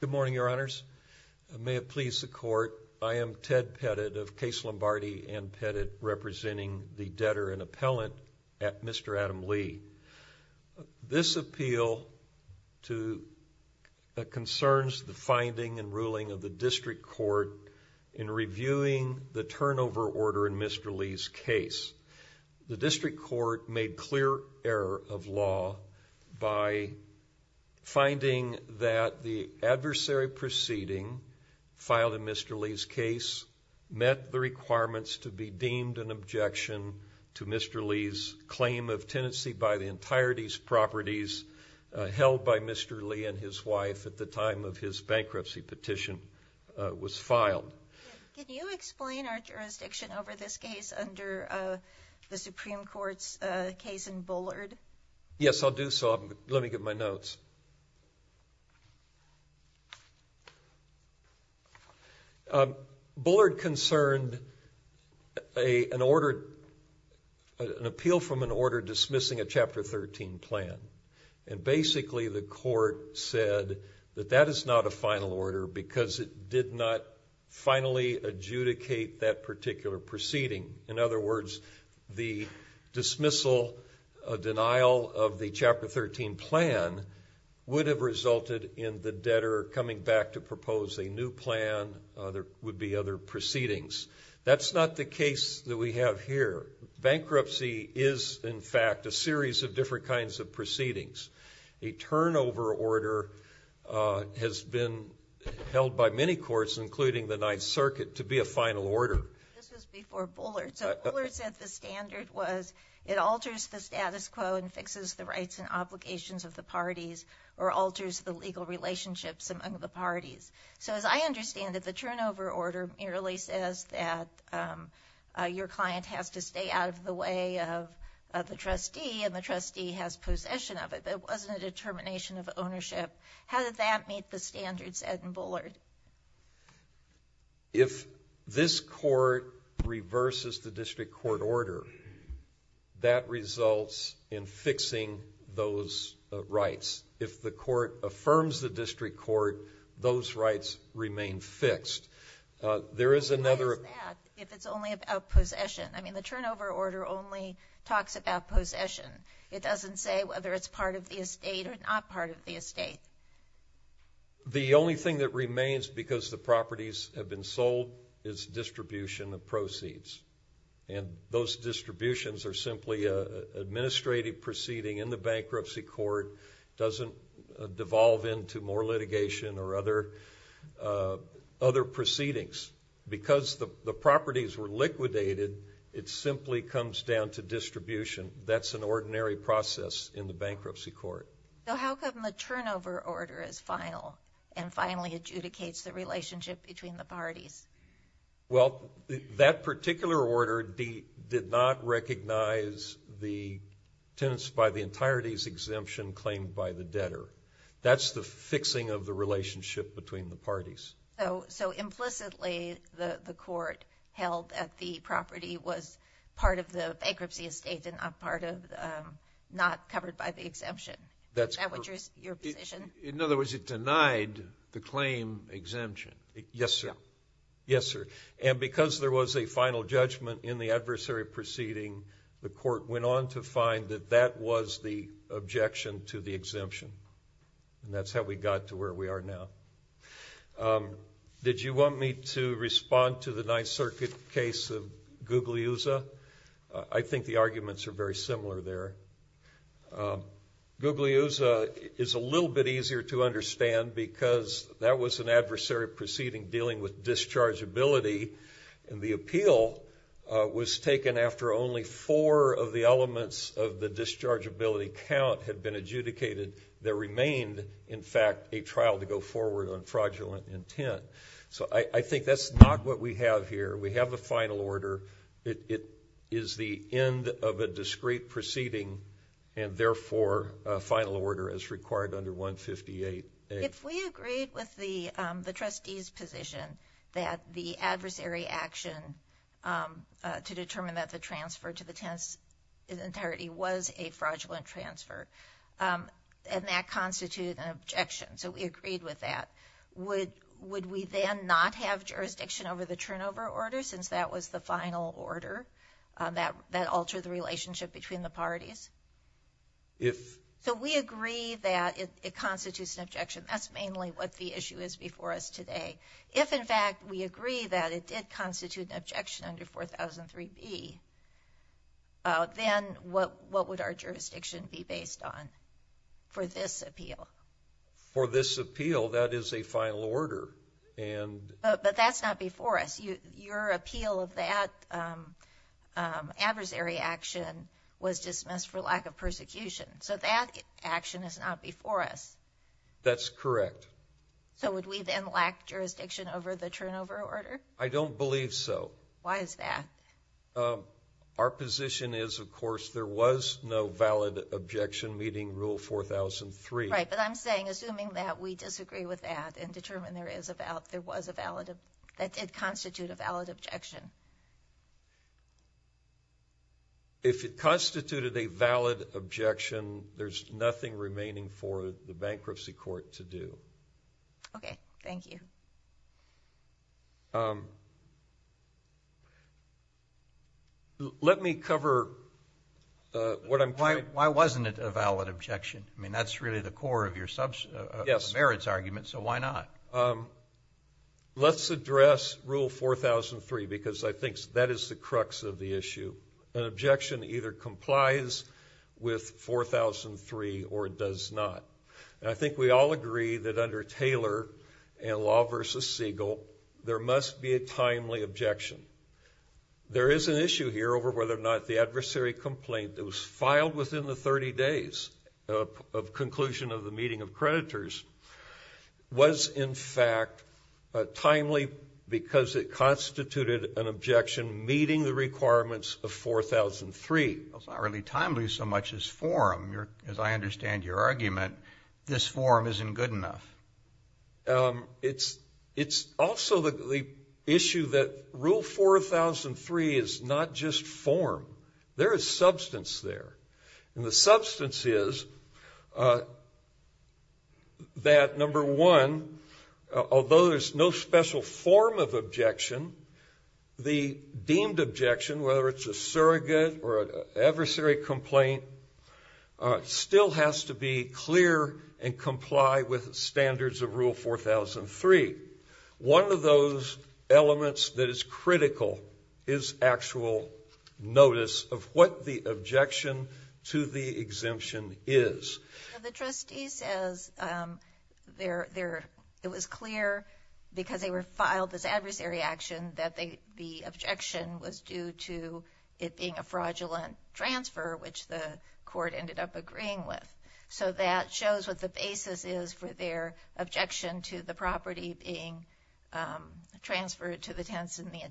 Good morning your honors. May it please the court, I am Ted Pettit of Case Lombardi and Pettit representing the debtor and appellant at Mr. Adam Lee. This appeal concerns the finding and ruling of the district court in reviewing the turnover order in Mr. Lee's case. The district court made clear error of law by finding that the adversary proceeding filed in Mr. Lee's case met the requirements to be deemed an objection to Mr. Lee's claim of tenancy by the entirety's properties held by Mr. Lee and his wife at the time of his bankruptcy petition was filed. Can you explain our jurisdiction over this case under the Supreme Court's case in Bullard? Yes I'll do so let me get my notes. Bullard concerned an order an appeal from an order dismissing a chapter 13 plan and basically the court said that that is not a final order because it did not finally adjudicate that particular proceeding. In other words the dismissal denial of the chapter 13 plan would have resulted in the debtor coming back to propose a new plan, there would be other proceedings. That's not the case that we have here. Bankruptcy is in fact a series of different kinds of proceedings. A turnover order has been held by many courts including the Ninth Circuit to be a final order. This was before Bullard. So Bullard said the standard was it alters the status quo and fixes the rights and obligations of the parties or alters the legal relationships among the parties. So as I understand that the turnover order merely says that your client has to stay out of the way of the trustee and the trustee has possession of it. It wasn't a determination of ownership. How did that meet the standards at Bullard? If this court reverses the district court order that results in fixing those rights. If the court affirms the district court those rights remain fixed. There is turnover order only talks about possession. It doesn't say whether it's part of the estate or not part of the estate. The only thing that remains because the properties have been sold is distribution of proceeds and those distributions are simply a administrative proceeding in the bankruptcy court doesn't devolve into more litigation or other other properties were liquidated it simply comes down to distribution. That's an ordinary process in the bankruptcy court. So how come the turnover order is final and finally adjudicates the relationship between the parties? Well that particular order did not recognize the tenants by the entirety's exemption claimed by the debtor. That's the fixing of the relationship between the parties. So implicitly the court held that the property was part of the bankruptcy estate and not covered by the exemption. In other words it denied the claim exemption. Yes sir. Yes sir. And because there was a final judgment in the adversary proceeding the court went on to find that that was the objection to the 9th Circuit case of Gugliusa. I think the arguments are very similar there. Gugliusa is a little bit easier to understand because that was an adversary proceeding dealing with dischargeability and the appeal was taken after only four of the elements of the dischargeability count had been filed to go forward on fraudulent intent. So I think that's not what we have here. We have the final order. It is the end of a discrete proceeding and therefore a final order as required under 158A. If we agreed with the the trustees position that the adversary action to determine that the transfer to the tenants entirety was a fraudulent transfer and that constituted an objection. So we agreed with that. Would we then not have jurisdiction over the turnover order since that was the final order that altered the relationship between the parties? If. So we agree that it constitutes an objection. That's mainly what the issue is before us today. If in fact we agree that it did constitute an objection under 4003B, then what would our jurisdiction be based on for this appeal? For this appeal that is a final order. But that's not before us. Your appeal of that adversary action was dismissed for lack of persecution. So that action is not before us. That's correct. So would we then lack jurisdiction over the turnover order? I don't believe so. Why is that? Our Right. But I'm saying assuming that we disagree with that and determine there is about there was a valid of that did constitute a valid objection. If it constituted a valid objection, there's nothing remaining for the bankruptcy court to do. Okay. Thank you. Let me cover what I'm. Why wasn't it a valid objection? I mean, that's really the core of your merits argument. So why not? Let's address rule 4003 because I think that is the crux of the issue. An objection either complies with 4003 or does not. I think we all agree that under Taylor and Law v. Siegel, there must be a timely objection. There is an issue here over whether or not the adversary complaint that was filed within the 30 days of conclusion of the meeting of creditors was in fact timely because it constituted an objection meeting the requirements of 4003. That's not really timely so much as form. As I understand your argument, this form isn't good enough. It's also the issue that rule 4003 is not just form. There is substances that, number one, although there's no special form of objection, the deemed objection, whether it's a surrogate or an adversary complaint, still has to be clear and comply with standards of rule 4003. One of those elements that is exemption is. The trustee says it was clear because they were filed as adversary action that the objection was due to it being a fraudulent transfer which the court ended up agreeing with. So that shows what the basis is for their objection to the property being transferred to the tenants in the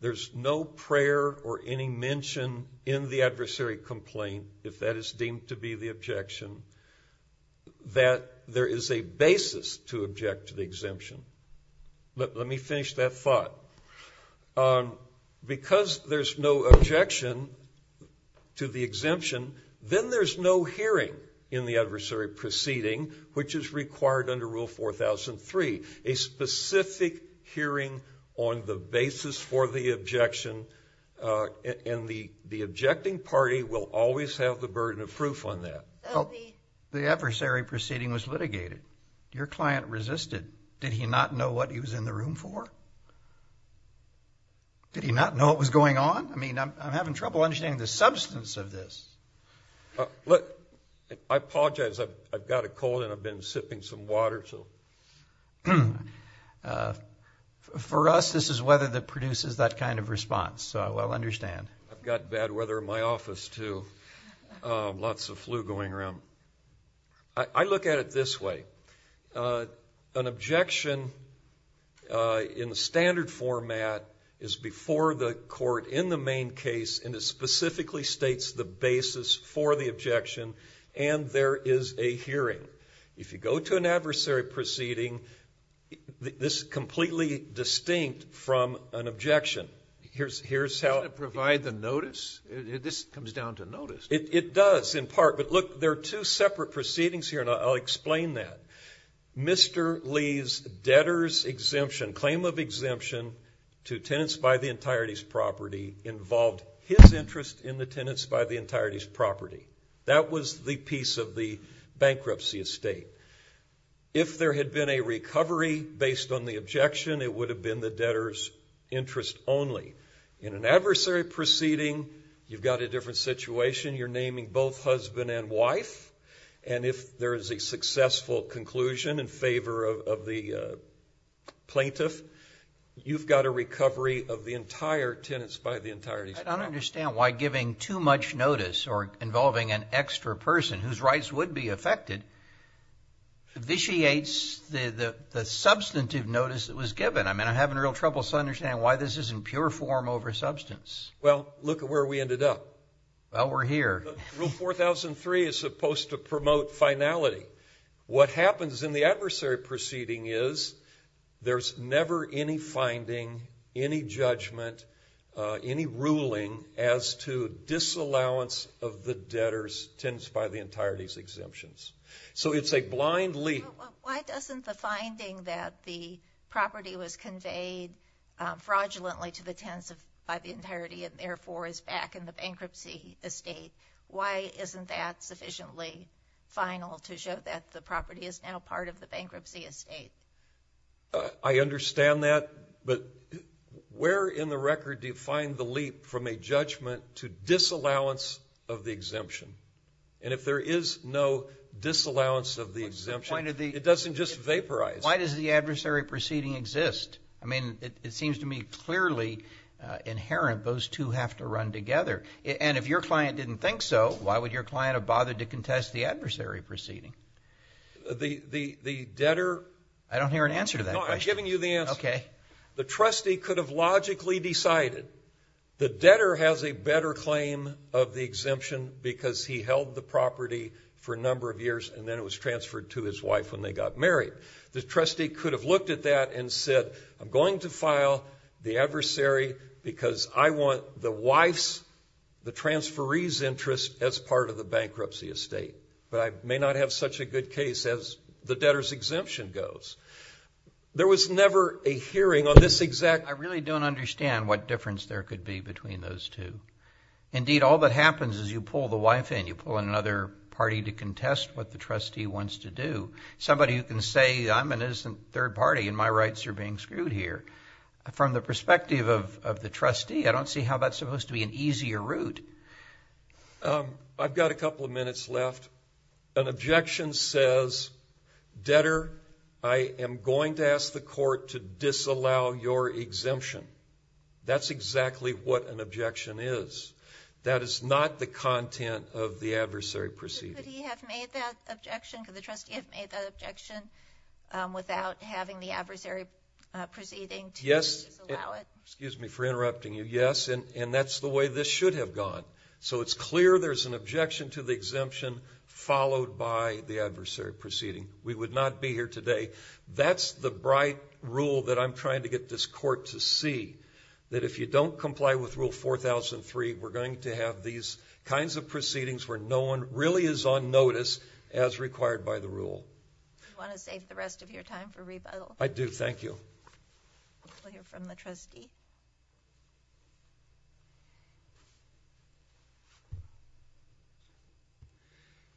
There's no prayer or any mention in the adversary complaint, if that is deemed to be the objection, that there is a basis to object to the exemption. Let me finish that thought. Because there's no objection to the exemption, then there's no hearing in the adversary proceeding which is required under rule 4003. A specific hearing on the basis for the objection and the objecting party will always have the burden of proof on that. The adversary proceeding was litigated. Your client resisted. Did he not know what he was in the room for? Did he not know what was going on? I mean, I'm having trouble understanding the substance of For us, this is weather that produces that kind of response. So I will understand. I've got bad weather in my office too. Lots of flu going around. I look at it this way. An objection in the standard format is before the court in the main case and it specifically states the basis for the objection and there is a hearing. If you this completely distinct from an objection, here's how to provide the notice. This comes down to notice. It does in part, but look, there are two separate proceedings here and I'll explain that. Mr. Lee's debtor's exemption, claim of exemption to tenants by the entirety's property involved his interest in the tenants by the entirety's property. That was the piece of the bankruptcy estate. If there had been a recovery based on the objection, it would have been the debtor's interest only. In an adversary proceeding, you've got a different situation. You're naming both husband and wife and if there is a successful conclusion in favor of the plaintiff, you've got a recovery of the entire tenants by the entirety's property. I don't understand why giving too much notice or vitiates the substantive notice that was given. I mean, I'm having real trouble understanding why this is in pure form over substance. Well, look at where we ended up. Well, we're here. Rule 4003 is supposed to promote finality. What happens in the adversary proceeding is there's never any finding, any judgment, any ruling as to disallowance of the debtors tenants by the entirety's fined leap. Why doesn't the finding that the property was conveyed fraudulently to the tenants by the entirety and therefore is back in the bankruptcy estate, why isn't that sufficiently final to show that the property is now part of the bankruptcy estate? I understand that, but where in the record do you find the leap from a judgment to disallowance of the exemption? And if there is no disallowance of the exemption, it doesn't just vaporize. Why does the adversary proceeding exist? I mean, it seems to me clearly inherent those two have to run together. And if your client didn't think so, why would your client have bothered to contest the adversary proceeding? The debtor... I don't hear an answer to that. No, I'm giving you the answer. Okay. The trustee could have logically decided the debtor has a better claim of the exemption because he held the property for a number of years and then it was transferred to his wife when they got married. The trustee could have looked at that and said, I'm going to file the adversary because I want the wife's, the transferee's interest as part of the bankruptcy estate. But I may not have such a good case as the debtor's exemption goes. There was never a hearing on this exact... I really don't understand what difference there could be between those two. Indeed, all that happens is you pull the wife in, you pull in another party to contest what the trustee wants to do. Somebody who can say, I'm an innocent third party and my rights are being screwed here. From the perspective of the trustee, I don't see how that's supposed to be an easier route. I've got a couple of minutes left. An objection says, debtor, I am going to ask the court to disallow your exemption. That's exactly what an objection is. That is not the content of the adversary proceeding. Could the trustee have made that objection without having the adversary proceeding to disallow it? Yes, and that's the way this should have gone. So it's clear there's an objection to the exemption followed by the adversary proceeding. We would not be here today. That's the bright rule that I'm trying to get this court to see. That if you don't comply with Rule 4003, we're going to have these kinds of proceedings where no one really is on notice as required by the rule. You want to save the rest of your time for rebuttal? I do, thank you. We'll hear from the trustee.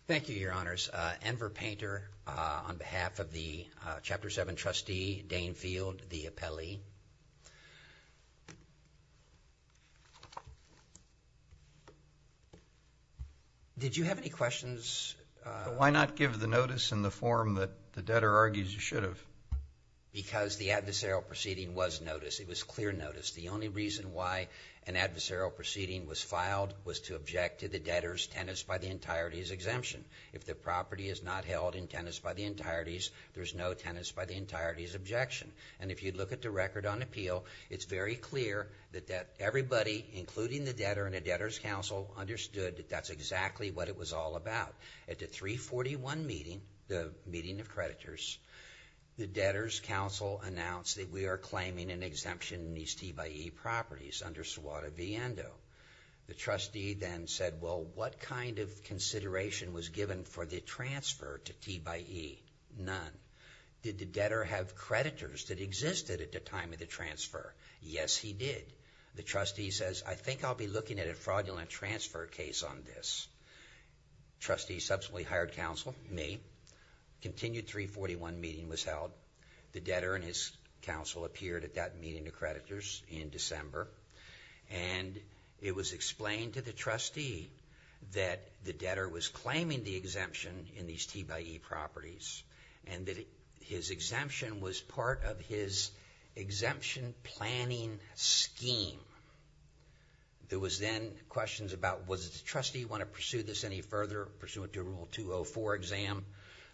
Thank you, Your Honors. Enver Painter on behalf of the Chapter 7 trustee, Dane Field, the appellee. Did you have any questions? Why not give the notice in the form that the debtor argues you should have? Because the adversarial proceeding was notice. It was clear notice. The only reason why an adversarial proceeding was filed was to object to the debtor's tenants by the entirety's exemption. If the property is not held in tenants by the entirety's, there's no tenants by the entity. If you look at the record on appeal, it's very clear that everybody, including the debtor and the debtor's counsel, understood that that's exactly what it was all about. At the 341 meeting, the meeting of creditors, the debtor's counsel announced that we are claiming an exemption in these T by E properties under SWOTA v. ENDO. The trustee then said, well, what kind of consideration was given for the transfer to T by E? None. Did the debtor have an exemption that existed at the time of the transfer? Yes, he did. The trustee says, I think I'll be looking at a fraudulent transfer case on this. Trustee subsequently hired counsel, me. Continued 341 meeting was held. The debtor and his counsel appeared at that meeting of creditors in December, and it was explained to the trustee that the debtor was claiming the exemption in these T by E properties, and that his exemption was part of his exemption planning scheme. There was then questions about, does the trustee want to pursue this any further pursuant to Rule 204 exam?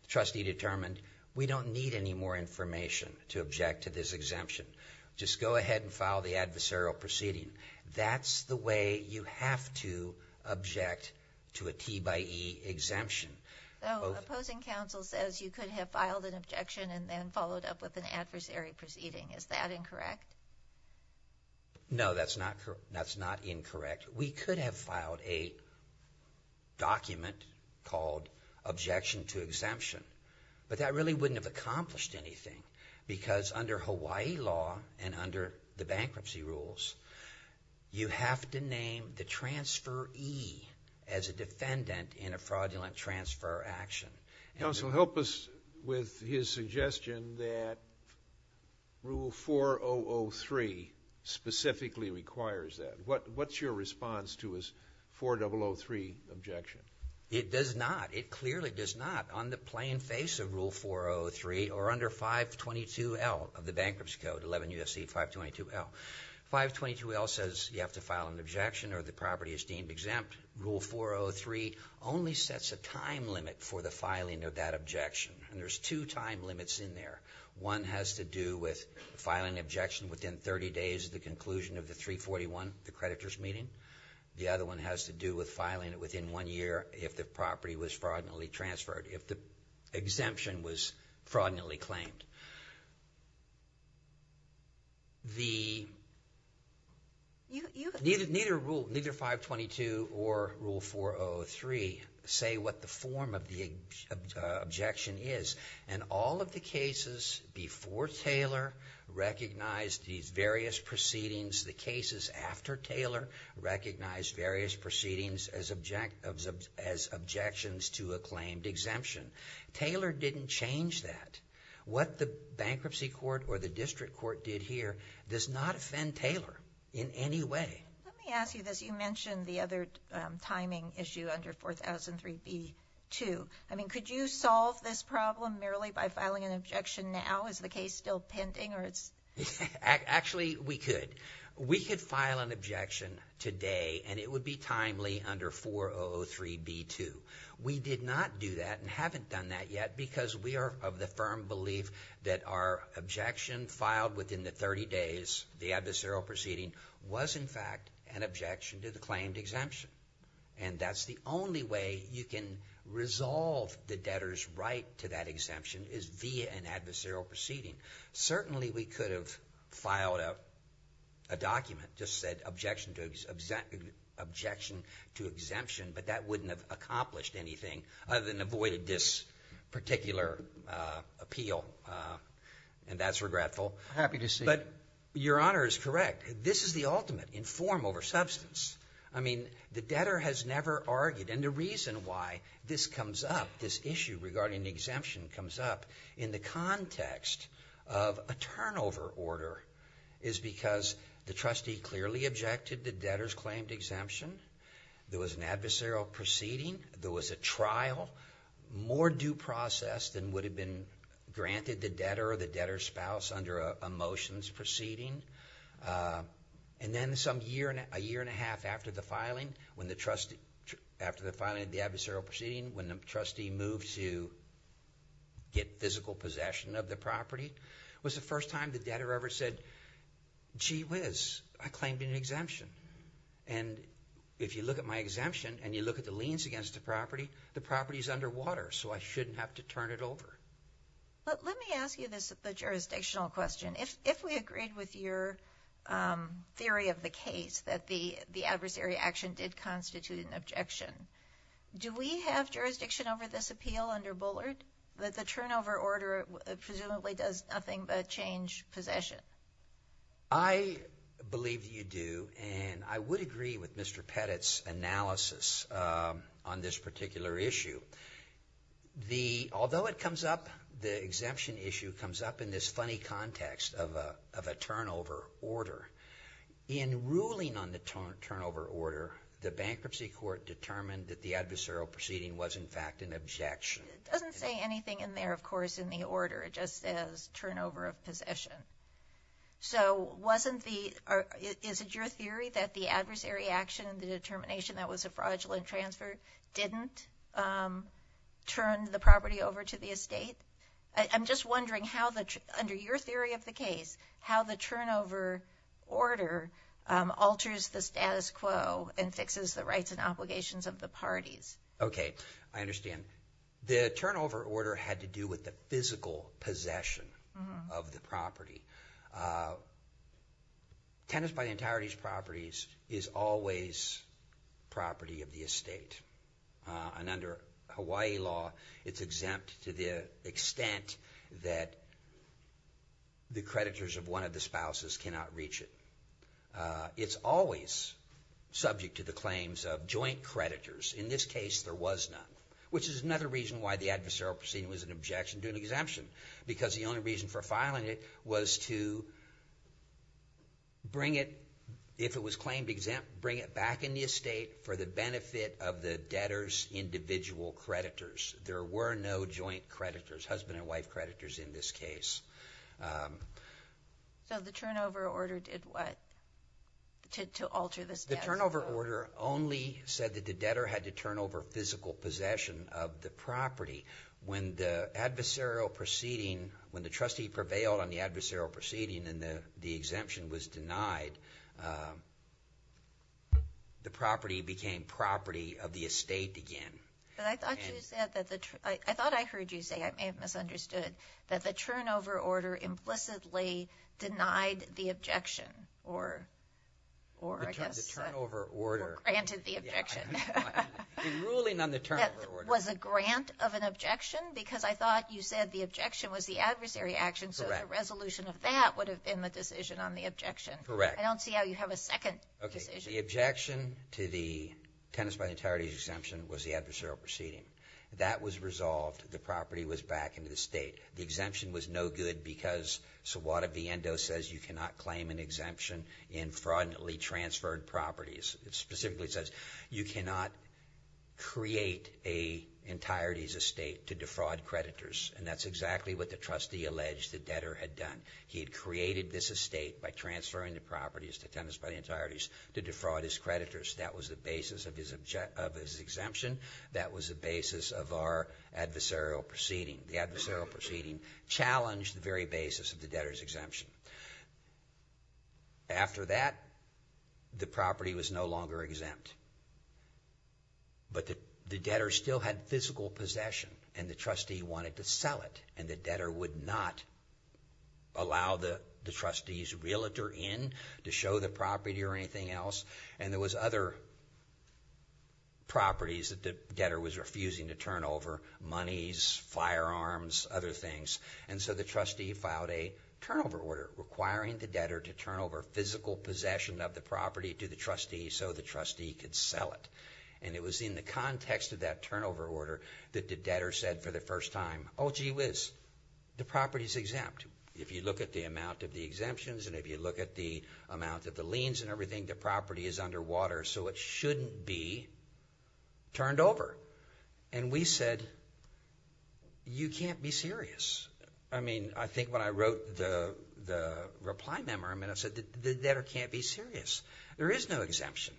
The trustee determined, we don't need any more information to object to this exemption. Just go ahead and file the adversarial proceeding. That's the way you have to object to a T by E exemption. Opposing counsel says you could have filed an objection and then followed up with an adversary proceeding. Is that incorrect? No, that's not correct. That's not incorrect. We could have filed a document called objection to exemption, but that really wouldn't have accomplished anything, because under Hawaii law and under the bankruptcy rules, you have to name the transferee as defendant in a fraudulent transfer action. Counsel, help us with his suggestion that Rule 4003 specifically requires that. What's your response to his 4003 objection? It does not. It clearly does not. On the plain face of Rule 403 or under 522 L of the Bankruptcy Code, 11 U.S.C. 522 L, 522 L says you have to file an objection or the property is deemed exempt. Rule 403 only sets a time limit for the filing of that objection, and there's two time limits in there. One has to do with filing objection within 30 days of the conclusion of the 341, the creditors meeting. The other one has to do with filing it within one year if the property was fraudulently transferred, if the exemption was fraudulently claimed. Neither Rule 522 or Rule 403 say what the form of the objection is, and all of the cases before Taylor recognized these various proceedings. The cases after Taylor recognized various Taylor didn't change that. What the Bankruptcy Court or the District Court did here does not offend Taylor in any way. Let me ask you this. You mentioned the other timing issue under 4003b2. I mean, could you solve this problem merely by filing an objection now? Is the case still pending? Actually, we could. We could file an objection today, and it would be timely under 4003b2. We did not do that and haven't done that yet because we are of the firm belief that our objection filed within the 30 days, the adversarial proceeding, was in fact an objection to the claimed exemption, and that's the only way you can resolve the debtor's right to that exemption is via an adversarial proceeding. Certainly, we could have filed a document that just said objection to exemption, but that wouldn't have accomplished anything other than avoided this particular appeal, and that's regretful. I'm happy to see it. But your Honor is correct. This is the ultimate in form over substance. I mean, the debtor has never argued, and the reason why this comes up, this issue regarding the exemption comes up, in the context of a turnover order is because the trustee clearly objected the debtor's claimed exemption. There was an adversarial proceeding. There was a trial, more due process than would have been granted the debtor or the debtor's spouse under a motions proceeding, and then some year, a year and a half after the filing, after the filing of the adversarial proceeding, when the trustee moves to get physical possession of the property, was the first time the debtor ever said, gee whiz, I claimed an exemption. And if you look at my exemption, and you look at the liens against the property, the property is underwater, so I shouldn't have to turn it over. But let me ask you this jurisdictional question. If we agreed with your theory of the case that the the adversary action did constitute an objection, do we have jurisdiction over this appeal under Bullard, that the turnover order presumably does nothing but change possession? I believe you do, and I would agree with Mr. Pettit's analysis on this particular issue. Although it comes up, the exemption issue comes up in this funny context of a turnover order. In ruling on the turnover order, the bankruptcy court determined that the adversarial proceeding was in fact an objection. It doesn't say anything in there, of course, in the order. It just says turnover of possession. So wasn't the, or is it your theory that the adversary action, the determination that was a fraudulent transfer, didn't turn the property over to the estate? I'm just wondering how the, under your theory of the case, how the turnover order alters the status quo and fixes the rights and obligations of the parties? Okay, I to do with the physical possession of the property. Tenants by the entirety's properties is always property of the estate, and under Hawaii law it's exempt to the extent that the creditors of one of the spouses cannot reach it. It's always subject to the claims of joint creditors. In this case, there was none, which is another reason why the adversarial proceeding was an objection to an exemption, because the only reason for filing it was to bring it, if it was claimed exempt, bring it back in the estate for the benefit of the debtor's individual creditors. There were no joint creditors, husband and wife creditors, in this case. So the turnover order did what to alter this? The turnover order only said that the debtor had to turn over physical possession of the property. When the adversarial proceeding, when the trustee prevailed on the adversarial proceeding and the the exemption was denied, the property became property of the estate again. But I thought you said that the, I thought I heard you say, I may have misunderstood, that the turnover order implicitly denied the objection or I guess, granted the objection. The ruling on the turnover order. Was a grant of an objection, because I thought you said the objection was the adversary action, so the resolution of that would have been the decision on the objection. Correct. I don't see how you have a second decision. The objection to the tenants by the entirety exemption was the adversarial proceeding. That was resolved, the property was back into the state. The exemption was no good, because Wada Viendo says you cannot claim an exemption in fraudulently transferred properties. It specifically says you cannot create a entirety's estate to defraud creditors, and that's exactly what the trustee alleged the debtor had done. He had created this estate by transferring the properties to tenants by the entireties to defraud his creditors. That was the basis of his exemption, that was the basis of our adversarial proceeding. The debtor's exemption. After that, the property was no longer exempt, but the debtor still had physical possession, and the trustee wanted to sell it, and the debtor would not allow the trustee's realtor in to show the property or anything else, and there was other properties that the debtor was refusing to turn over, monies, firearms, other things, and so the trustee filed a turnover order requiring the debtor to turn over physical possession of the property to the trustee, so the trustee could sell it, and it was in the context of that turnover order that the debtor said for the first time, oh gee whiz, the property is exempt. If you look at the amount of the exemptions, and if you look at the amount of the liens and everything, the property is underwater, so it shouldn't be turned over, and we said, you can't be serious. I mean, I think when I wrote the reply memo, I mean, I said the debtor can't be serious. There is no exemption.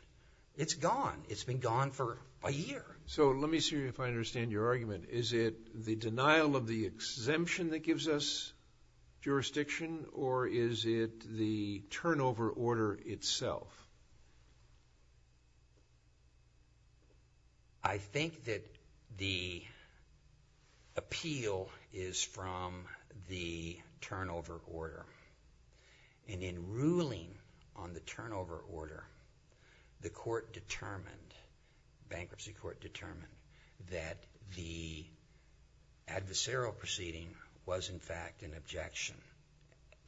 It's gone. It's been gone for a year. So let me see if I understand your argument. Is it the denial of the exemption that gives us jurisdiction, or is it the turnover order itself? I think that the appeal is from the turnover order, and in ruling on the turnover order, the court determined, bankruptcy court determined, that the adversarial proceeding was in fact an objection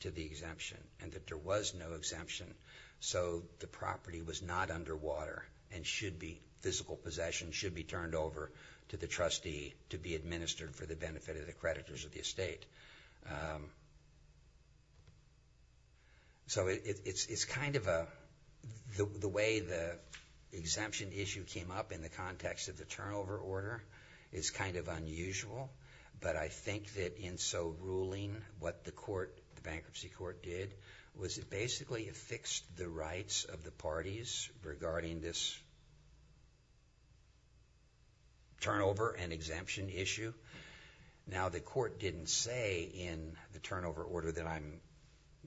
to the exemption, and that there was no exemption, so the property was not underwater, and should be, physical possession should be turned over to the trustee to be administered for the benefit of the creditors of the estate. So it's kind of a, the way the exemption issue came up in the context of the turnover order is kind of unusual, but I think that in so ruling what the court, the bankruptcy court did, was it basically affixed the rights of the parties regarding this turnover and exemption issue. Now the court didn't say in the turnover order that I'm,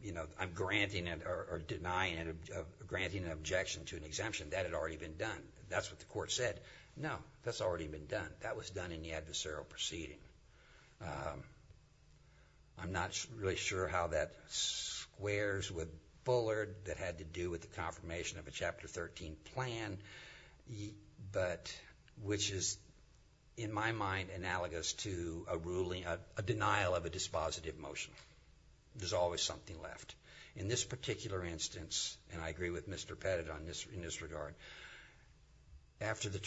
you know, I'm granting it or denying it, granting an objection to an exemption. That had already been done. That's what the court said. No, that's already been done. That was done in the adversarial proceeding. I'm not really sure how that squares with Bullard, that had to do with the confirmation of a Chapter 13 plan, but which is in my mind analogous to a ruling, a denial of a dispositive motion. There's always something left. In this particular instance, and I agree with Mr. Pettit on this, in this regard, after the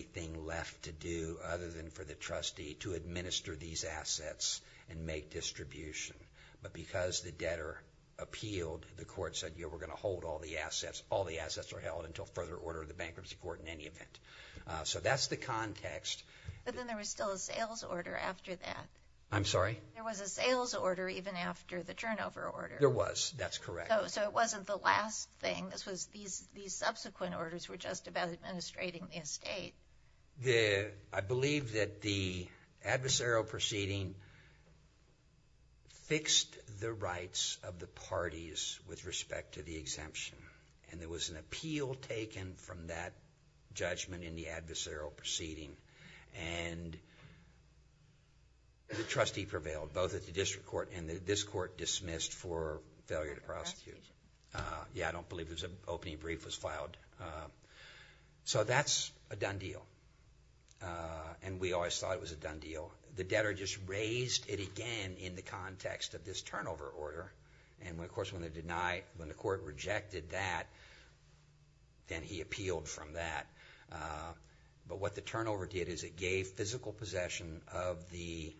to do other than for the trustee to administer these assets and make distribution, but because the debtor appealed, the court said, you know, we're gonna hold all the assets. All the assets are held until further order of the bankruptcy court in any event. So that's the context. But then there was still a sales order after that. I'm sorry? There was a sales order even after the turnover order. There was, that's correct. So it wasn't the last thing. This was these subsequent orders were just about administrating the estate. I believe that the adversarial proceeding fixed the rights of the parties with respect to the exemption, and there was an appeal taken from that judgment in the adversarial proceeding, and the trustee prevailed, both at the district court and this court dismissed for failure to prosecute. Yeah, I don't believe there's an opening brief was filed. So that's a done deal, and we always thought it was a done deal. The debtor just raised it again in the context of this turnover order, and of course when they deny, when the court rejected that, then he appealed from that. But what the turnover did is it gave physical possession of the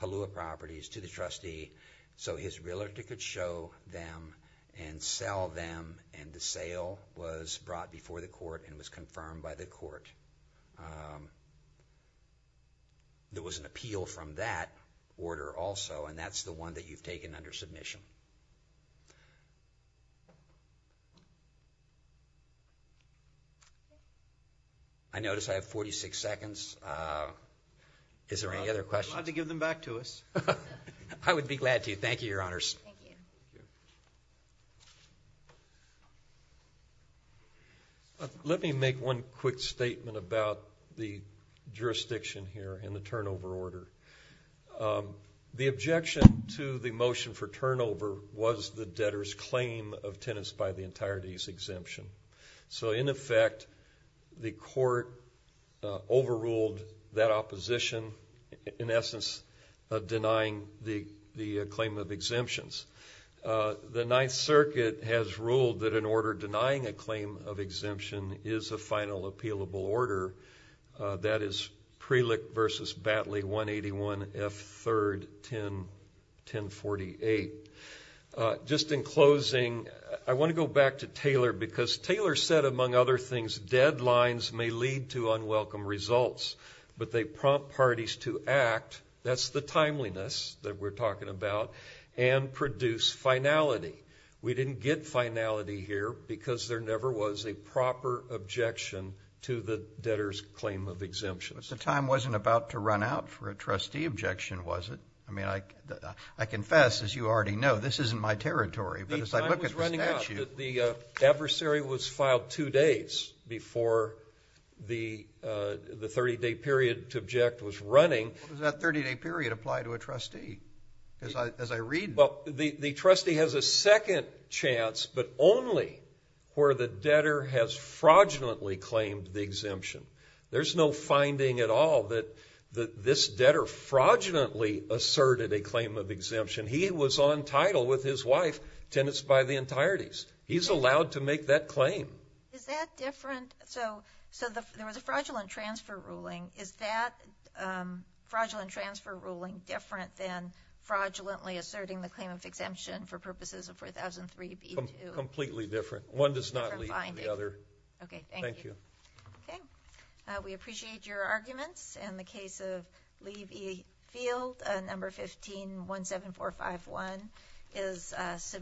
Palua properties to the trustee so his realtor could show them and sell them, and the sale was brought before the court and was confirmed by the court. There was an appeal from that order also, and that's the one that you've taken under submission. I notice I have 46 seconds. Is there any other questions? Glad to give them back to us. I would be glad to. Thank you, Your Honors. Let me make one quick statement about the jurisdiction here and the turnover order. The objection to the motion for turnover was the debtor's claim of tenants by the entirety's exemption. So in effect, the court overruled that opposition, in essence, denying the claim of exemptions. The Ninth Circuit has ruled that an order denying a claim of exemption is a final appealable order. That is Prelick v. Batley 181 F. 3rd 1048. Just in closing, I want to go back to Taylor because Taylor said, among other things, deadlines may lead to unwelcome results, but they prompt parties to act, that's the timeliness that we're talking about, and produce finality. We didn't get finality here because there never was a proper objection to the debtor's claim of exemptions. But the time wasn't about to run out for a trustee objection, was it? I mean, I confess, as you already know, this isn't my territory, but as I look at the statute... The adversary was filed two days before the 30-day period to object was running. What does that 30-day period apply to a trustee? As I read... Well, the trustee has a second chance, but only where the debtor has fraudulently claimed the exemption. There's no finding at all that this debtor fraudulently asserted a claim of exemption. He was on title with his wife, tenants by the entireties. He's allowed to make that claim. Is that different? So there was a fraudulent transfer ruling. Is that fraudulent transfer ruling different than fraudulently asserting the claim of exemption for purposes of 4003b2? Completely different. One does not lead to the other. Okay, thank you. Okay, we appreciate your arguments. In the case of Lee v. Field, number 1517451 is submitted.